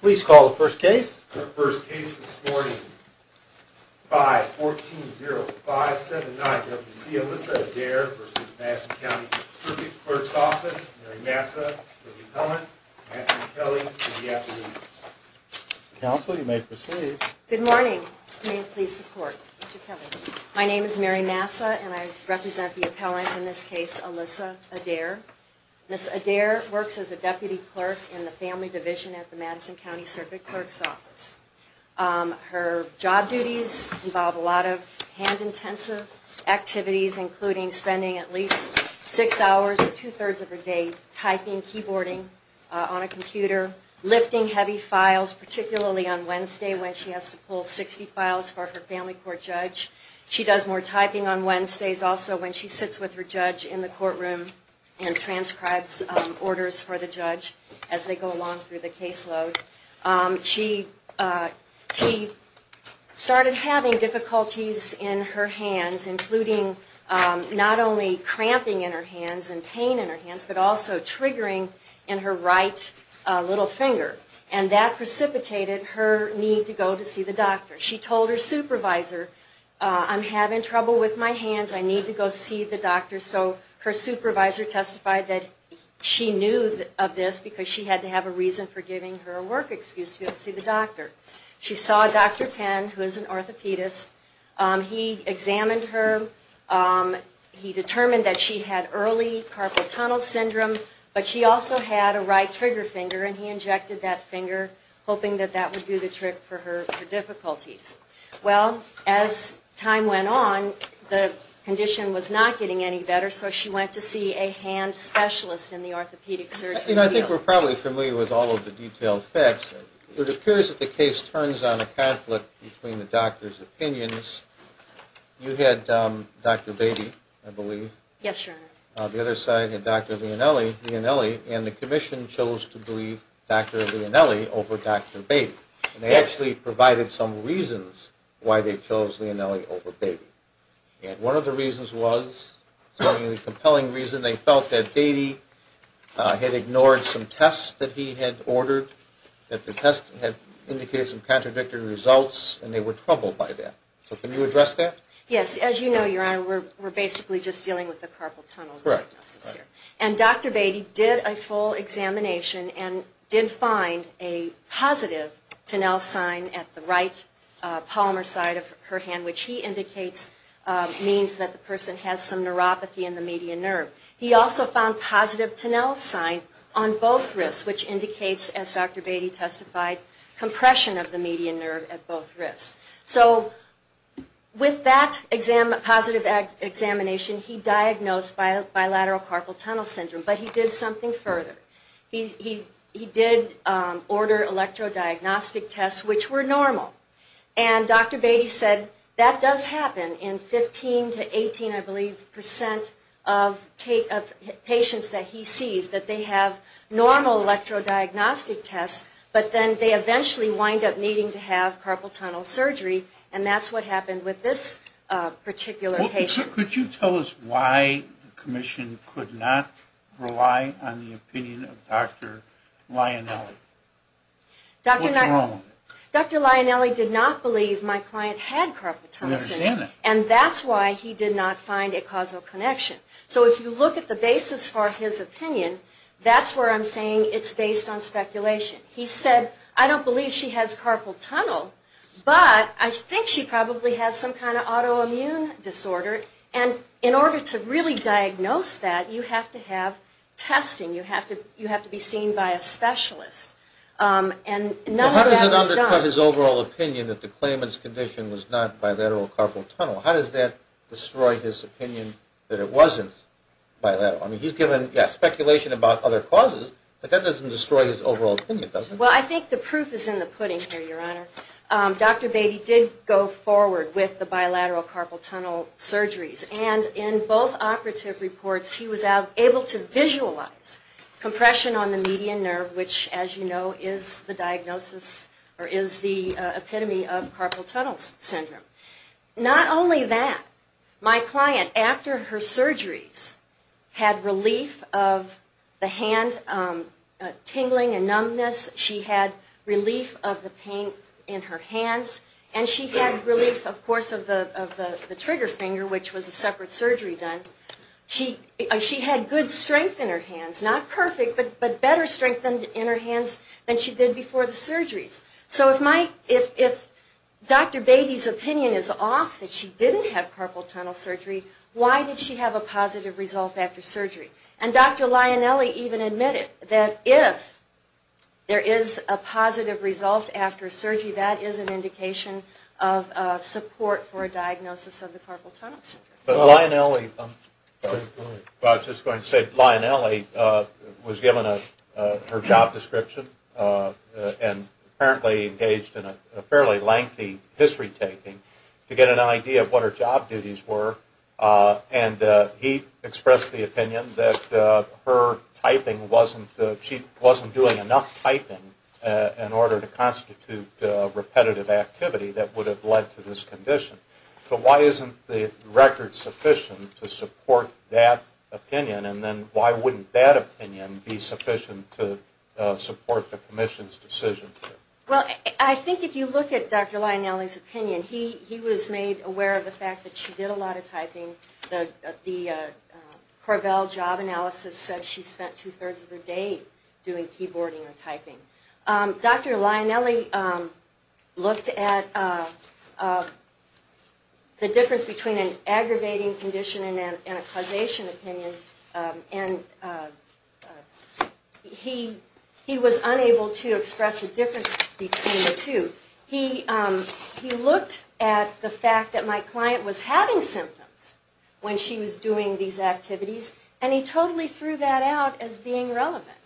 Please call the first case. The first case this morning is 5-14-0579 W.C. Alyssa Adair v. Madison County District Clerk's Office. Mary Massa, the appellant. Matthew Kelly, for the afternoon. Counsel, you may proceed. Good morning. May it please the court. My name is Mary Massa, and I represent the appellant in this case, Alyssa Adair. Ms. Adair works as a deputy clerk in the family division at the Madison County Circuit Clerk's Office. Her job duties involve a lot of hand-intensive activities, including spending at least six hours or two-thirds of her day typing, keyboarding on a computer, lifting heavy files, particularly on Wednesday when she has to pull 60 files for her family court judge. She does more typing on Wednesdays also when she sits with her judge in the courtroom and transcribes orders for the judge as they go along through the caseload. She started having difficulties in her hands, including not only cramping in her hands and pain in her hands, but also triggering in her right little finger. And that precipitated her need to go to see the doctor. She told her supervisor, I'm having trouble with my hands, I need to go see the doctor. So her supervisor testified that she knew of this because she had to have a reason for giving her a work excuse to go see the doctor. She saw Dr. Penn, who is an orthopedist. He examined her. He determined that she had early carpal tunnel syndrome, but she also had a right trigger finger, and he injected that finger, hoping that that would do the trick for her difficulties. Well, as time went on, the condition was not getting any better, so she went to see a hand specialist in the orthopedic surgery field. I think we're probably familiar with all of the detailed facts. It appears that the case turns on a conflict between the doctor's opinions. You had Dr. Beatty, I believe. Yes, Your Honor. The other side had Dr. Lionelli, and the commission chose to believe Dr. Lionelli over Dr. Beatty. And they actually provided some reasons why they chose Lionelli over Beatty. And one of the reasons was something of a compelling reason. They felt that Beatty had ignored some tests that he had ordered, that the tests had indicated some contradicted results, and they were troubled by that. So can you address that? Yes, as you know, Your Honor, we're basically just dealing with the carpal tunnel diagnosis here. And Dr. Beatty did a full examination and did find a positive Tonell sign at the right polymer side of her hand, which he indicates means that the person has some neuropathy in the median nerve. He also found positive Tonell sign on both wrists, which indicates, as Dr. Beatty testified, compression of the median nerve at both wrists. So with that positive examination, he diagnosed bilateral carpal tunnel syndrome. But he did something further. He did order electrodiagnostic tests, which were normal. And Dr. Beatty said, that does happen in 15 to 18, I believe, percent of patients that he sees, that they have normal electrodiagnostic tests, but then they eventually wind up needing to have carpal tunnel surgery. And that's what happened with this particular patient. Could you tell us why the commission could not rely on the opinion of Dr. Lionelli? What's wrong with it? Dr. Lionelli did not believe my client had carpal tunnel syndrome. We understand that. And that's why he did not find a causal connection. So if you look at the basis for his opinion, that's where I'm saying it's based on speculation. He said, I don't believe she has carpal tunnel, but I think she probably has some kind of autoimmune disorder. And in order to really diagnose that, you have to have testing. You have to be seen by a specialist. And none of that was done. How does it undercut his overall opinion that the claimant's condition was not bilateral carpal tunnel? How does that destroy his opinion that it wasn't bilateral? I mean, he's given speculation about other causes, but that doesn't destroy his overall opinion, does it? Well, I think the proof is in the pudding here, Your Honor. Dr. Beatty did go forward with the bilateral carpal tunnel surgeries. And in both operative reports, he was able to visualize compression on the median nerve, which, as you know, is the diagnosis or is the epitome of carpal tunnel syndrome. Not only that, my client, after her surgeries, had relief of the hand tingling and numbness. She had relief of the pain in her hands. And she had relief, of course, of the trigger finger, which was a separate surgery done. She had good strength in her hands. Not perfect, but better strength in her hands than she did before the surgeries. So if Dr. Beatty's opinion is off that she didn't have carpal tunnel surgery, why did she have a positive result after surgery? And Dr. Lionelli even admitted that if there is a positive result after surgery, that is an indication of support for a diagnosis of the carpal tunnel syndrome. But Lionelli, I was just going to say, Lionelli was given her job description and apparently engaged in a fairly lengthy history taking to get an idea of what her job duties were. And he expressed the opinion that her typing wasn't, she wasn't doing enough typing in order to constitute repetitive activity that would have led to this condition. So why isn't the record sufficient to support that opinion? And then why wouldn't that opinion be sufficient to support the commission's decision? Well, I think if you look at Dr. Lionelli's opinion, he was made aware of the fact that she did a lot of typing. The Corvell job analysis said she spent two-thirds of her day doing keyboarding or typing. Dr. Lionelli looked at the difference between an aggravating condition and a causation opinion and he was unable to express a difference between the two. He looked at the fact that my client was having symptoms when she was doing these activities and he totally threw that out as being relevant.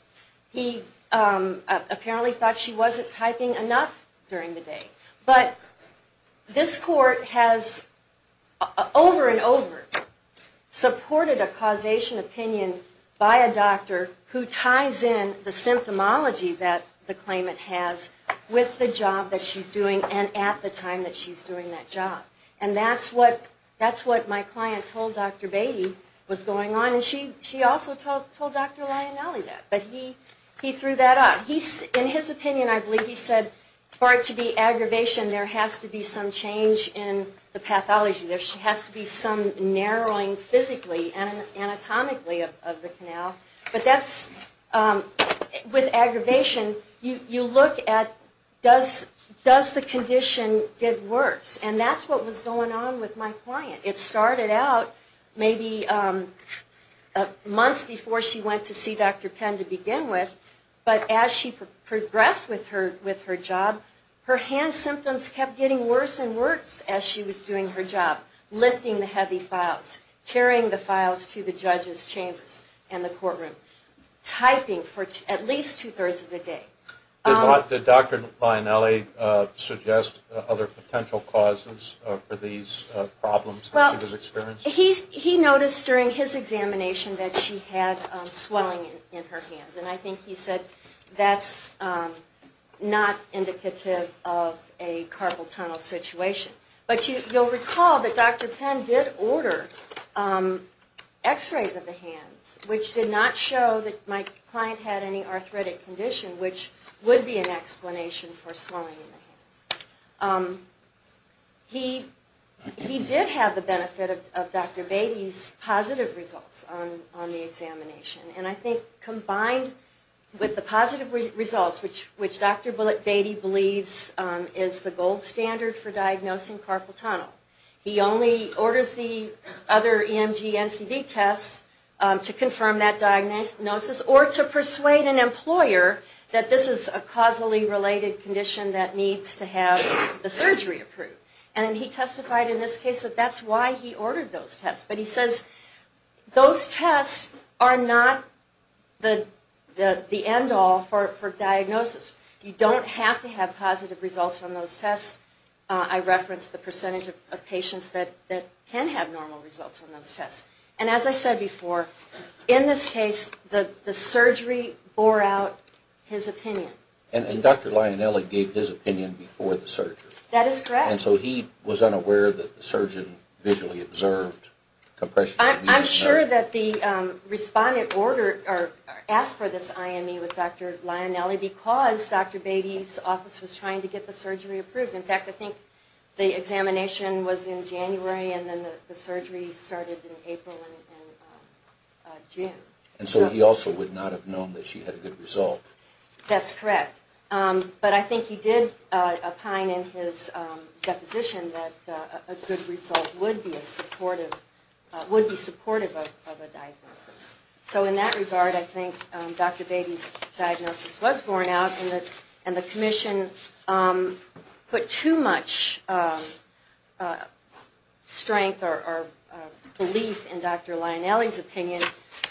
He apparently thought she wasn't typing enough during the day. But this court has over and over supported a causation opinion by a doctor who ties in the symptomology that the claimant has with the job that she's doing and at the time that she's doing that job. And that's what my client told Dr. Beatty was going on and she also told Dr. Lionelli that. But he threw that out. In his opinion, I believe he said for it to be aggravation, there has to be some change in the pathology. There has to be some narrowing physically and anatomically of the canal. But with aggravation, you look at does the condition get worse? And that's what was going on with my client. It started out maybe months before she went to see Dr. Penn to begin with, but as she progressed with her job, her hand symptoms kept getting worse and worse as she was doing her job, lifting the heavy files, carrying the files to the judge's chambers and the courtroom, typing for at least two-thirds of the day. Did Dr. Lionelli suggest other potential causes for these problems that she was experiencing? He noticed during his examination that she had swelling in her hands and I think he said that's not indicative of a carpal tunnel situation. But you'll recall that Dr. Penn did order x-rays of the hands, which did not show that my client had any arthritic condition, which would be an explanation for swelling in the hands. He did have the benefit of Dr. Beatty's positive results on the examination. And I think combined with the positive results, which Dr. Bullet Beatty believes is the gold standard for diagnosing carpal tunnel, he only orders the other EMG NCV tests to confirm that diagnosis or to persuade an employer that this is a causally related condition that needs to have the surgery approved. And he testified in this case that that's why he ordered those tests. But he says those tests are not the end-all for diagnosis. You don't have to have positive results from those tests. I referenced the percentage of patients that can have normal results from those tests. And as I said before, in this case the surgery bore out his opinion. And Dr. Lionelli gave his opinion before the surgery. That is correct. And so he was unaware that the surgeon visually observed compression of the knee. I'm sure that the respondent asked for this IME with Dr. Lionelli because Dr. Beatty's office was trying to get the surgery approved. In fact, I think the examination was in January and then the surgery started in April and June. And so he also would not have known that she had a good result. That's correct. But I think he did opine in his deposition that a good result would be supportive of a diagnosis. So in that regard, I think Dr. Beatty's diagnosis was borne out and the commission put too much strength or belief in Dr. Lionelli's opinion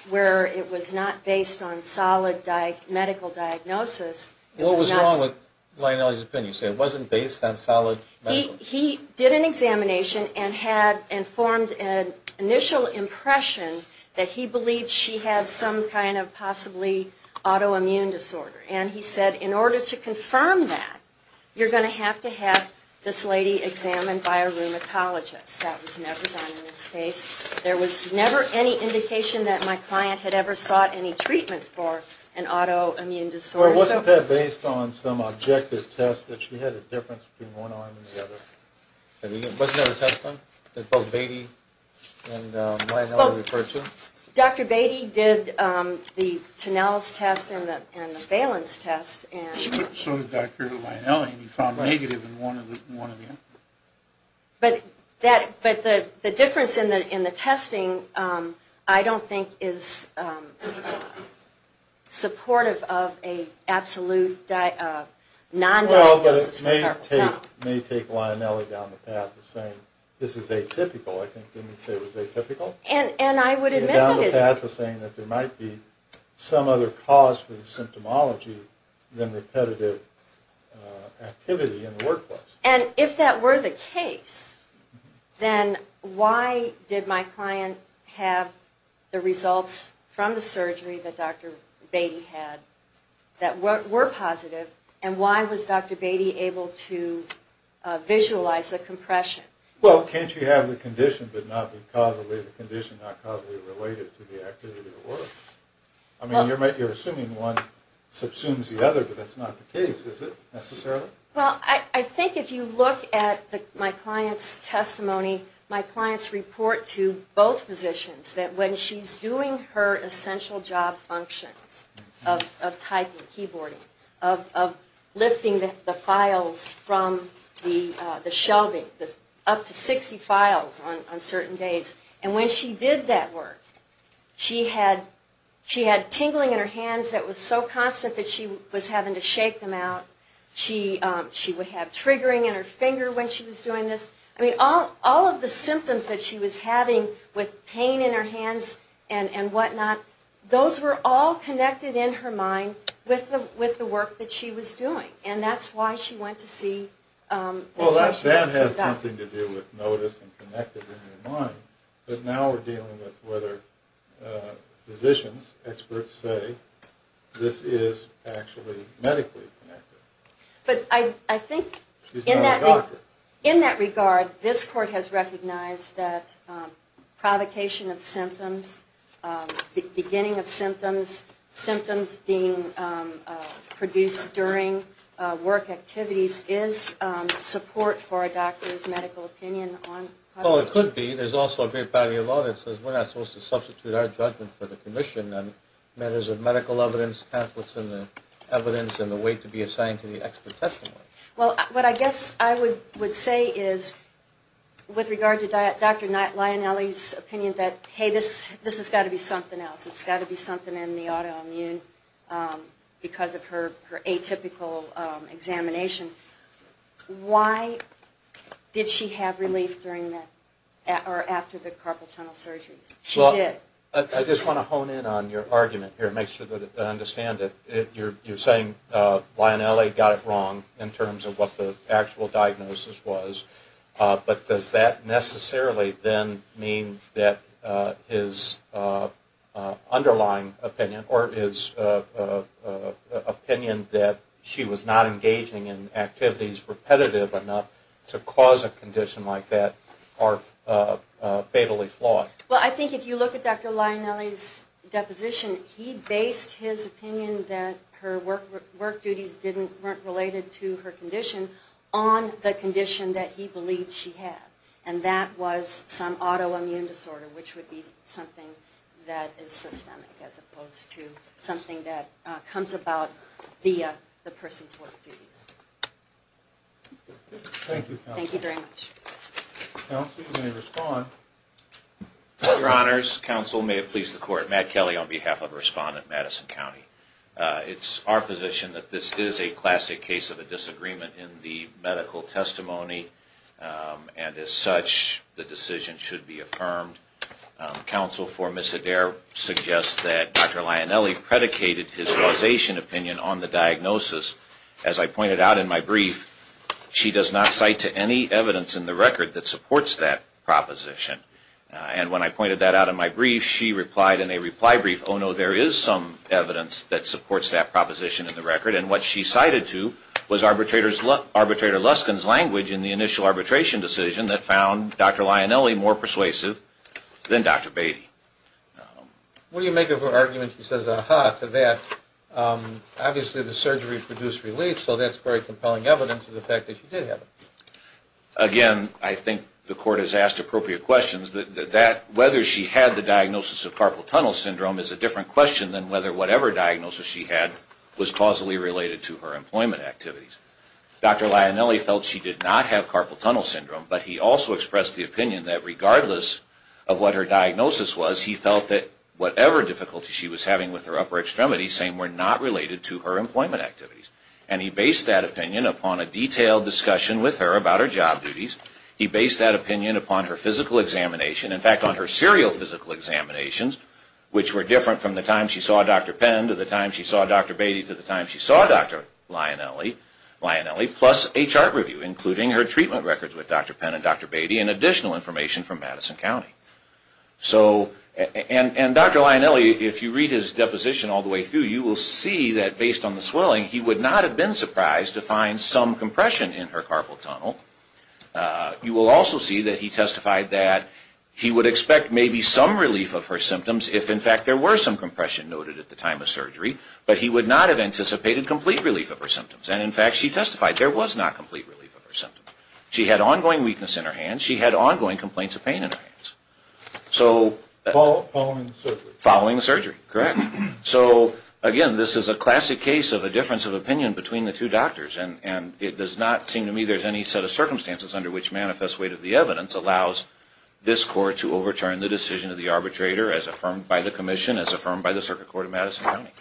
where it was not based on solid medical diagnosis. What was wrong with Lionelli's opinion? He said it wasn't based on solid medical diagnosis. He did an examination and formed an initial impression that he believed she had some kind of possibly autoimmune disorder. And he said in order to confirm that, you're going to have to have this lady examined by a rheumatologist. That was never done in this case. There was never any indication that my client had ever sought any treatment for an autoimmune disorder. Well, wasn't that based on some objective test that she had a difference between one arm and the other? Wasn't that a test done that both Beatty and Lionelli referred to? Dr. Beatty did the Tonell's test and the Phelan's test. So did Dr. Lionelli, and he found negative in one of them. But the difference in the testing I don't think is supportive of an absolute non-diagnosis for carpal tunnel. Well, but it may take Lionelli down the path of saying this is atypical. I think they may say it was atypical. And I would admit that it is. Down the path of saying that there might be some other cause for the symptomology than repetitive activity in the workplace. And if that were the case, then why did my client have the results from the surgery that Dr. Beatty had that were positive, and why was Dr. Beatty able to visualize the compression? Well, can't you have the condition but not causally the condition not causally related to the activity of the work? I mean, you're assuming one subsumes the other, but that's not the case, is it, necessarily? Well, I think if you look at my client's testimony, my clients report to both physicians that when she's doing her essential job functions of typing, keyboarding, of lifting the files from the shelving, up to 60 files on certain days, and when she did that work, she had tingling in her hands that was so constant that she was having to shake them out. She would have triggering in her finger when she was doing this. I mean, all of the symptoms that she was having with pain in her hands and whatnot, those were all connected in her mind with the work that she was doing. And that's why she went to see the specialist. Well, that has something to do with notice and connected in her mind. But now we're dealing with whether physicians, experts say this is actually medically connected. But I think in that regard, this court has recognized that provocation of symptoms, the beginning of symptoms, symptoms being produced during work activities, is support for a doctor's medical opinion. Well, it could be. There's also a great body of law that says we're not supposed to substitute our judgment for the commission on matters of medical evidence, conflicts in the evidence, and the weight to be assigned to the expert testimony. Well, what I guess I would say is with regard to Dr. Lionelli's opinion that, hey, this has got to be something else. It's got to be something in the autoimmune because of her atypical examination. Why did she have relief after the carpal tunnel surgery? She did. I just want to hone in on your argument here and make sure that I understand it. You're saying Lionelli got it wrong in terms of what the actual diagnosis was. But does that necessarily then mean that his underlying opinion or his opinion that she was not engaging in activities repetitive enough to cause a condition like that are fatally flawed? Well, I think if you look at Dr. Lionelli's deposition, he based his opinion that her work duties weren't related to her condition on the condition that he believed she had, and that was some autoimmune disorder, which would be something that is systemic as opposed to something that comes about via the person's work duties. Thank you, Counsel. Thank you very much. Counsel, you may respond. Your Honors, Counsel, may it please the Court, Matt Kelly on behalf of Respondent Madison County. It's our position that this is a classic case of a disagreement in the medical testimony, and as such, the decision should be affirmed. Counsel for Ms. Hedare suggests that Dr. Lionelli predicated his causation opinion on the diagnosis. As I pointed out in my brief, she does not cite to any evidence in the record that supports that proposition. And when I pointed that out in my brief, she replied in a reply brief, oh, no, there is some evidence that supports that proposition in the record. And what she cited to was Arbitrator Luskin's language in the initial arbitration decision that found Dr. Lionelli more persuasive than Dr. Beatty. What do you make of her argument? She says, aha, to that. Obviously, the surgery produced relief, so that's very compelling evidence of the fact that she did have it. Again, I think the Court has asked appropriate questions. Whether she had the diagnosis of carpal tunnel syndrome is a different question than whether whatever diagnosis she had was causally related to her employment activities. Dr. Lionelli felt she did not have carpal tunnel syndrome, but he also expressed the opinion that regardless of what her diagnosis was, he felt that whatever difficulty she was having with her upper extremities were not related to her employment activities. And he based that opinion upon a detailed discussion with her about her job duties. He based that opinion upon her physical examination, in fact, on her serial physical examinations, which were different from the time she saw Dr. Penn to the time she saw Dr. Beatty to the time she saw Dr. Lionelli, plus a chart review, including her treatment records with Dr. Penn and Dr. Beatty and additional information from Madison County. And Dr. Lionelli, if you read his deposition all the way through, you will see that based on the swelling, he would not have been surprised to find some compression in her carpal tunnel. You will also see that he testified that he would expect maybe some relief of her symptoms if, in fact, there were some compression noted at the time of surgery, but he would not have anticipated complete relief of her symptoms. And, in fact, she testified there was not complete relief of her symptoms. She had ongoing weakness in her hands. She had ongoing complaints of pain in her hands. Following the surgery? Following the surgery, correct. So, again, this is a classic case of a difference of opinion between the two doctors, and it does not seem to me there's any set of circumstances under which manifest weight of the evidence allows this court to overturn the decision of the arbitrator as affirmed by the commission, as affirmed by the Circuit Court of Madison County. Thank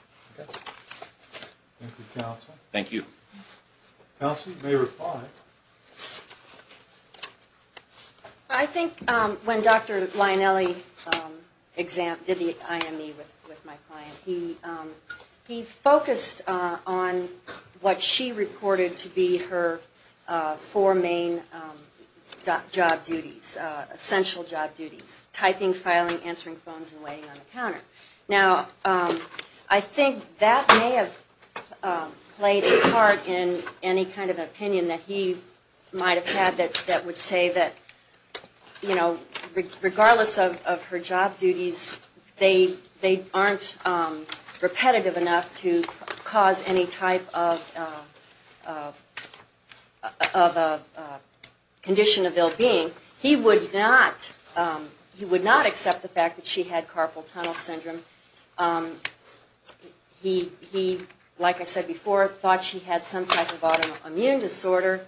you, Counsel. Thank you. Counsel, you may reply. I think when Dr. Lionelli did the IME with my client, he focused on what she reported to be her four main job duties, essential job duties, typing, filing, answering phones, and waiting on the counter. Now, I think that may have played a part in any kind of opinion that he might have had that would say that, you know, regardless of her job duties, they aren't repetitive enough to cause any type of condition of ill-being. He would not accept the fact that she had carpal tunnel syndrome. He, like I said before, thought she had some type of autoimmune disorder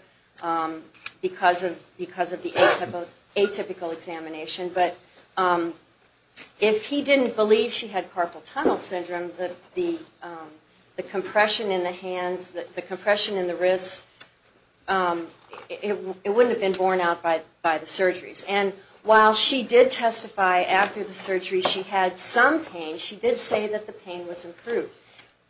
because of the atypical examination, but if he didn't believe she had carpal tunnel syndrome, the compression in the hands, the compression in the wrists, it wouldn't have been borne out by the surgeries. And while she did testify after the surgery she had some pain, she did say that the pain was improved.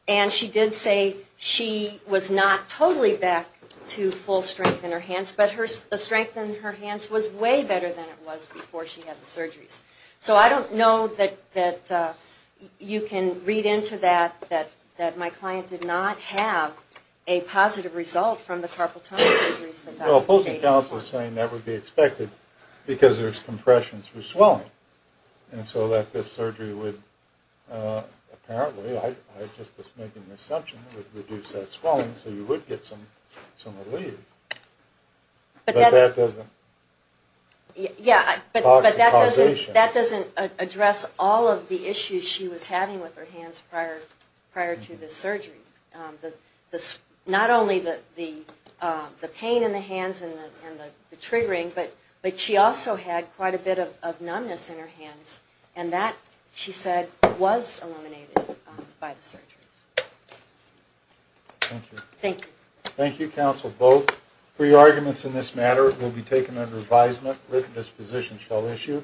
And she did say she was not totally back to full strength in her hands, but the strength in her hands was way better than it was before she had the surgeries. So I don't know that you can read into that, that my client did not have a positive result from the carpal tunnel surgeries. Well, the opposing counsel is saying that would be expected because there's compression through swelling. And so that this surgery would apparently, I'm just making an assumption, would reduce that swelling so you would get some relief. But that doesn't address all of the issues she was having with her hands prior to this surgery. Not only the pain in the hands and the triggering, but she also had quite a bit of numbness in her hands. And that, she said, was eliminated by the surgeries. Thank you.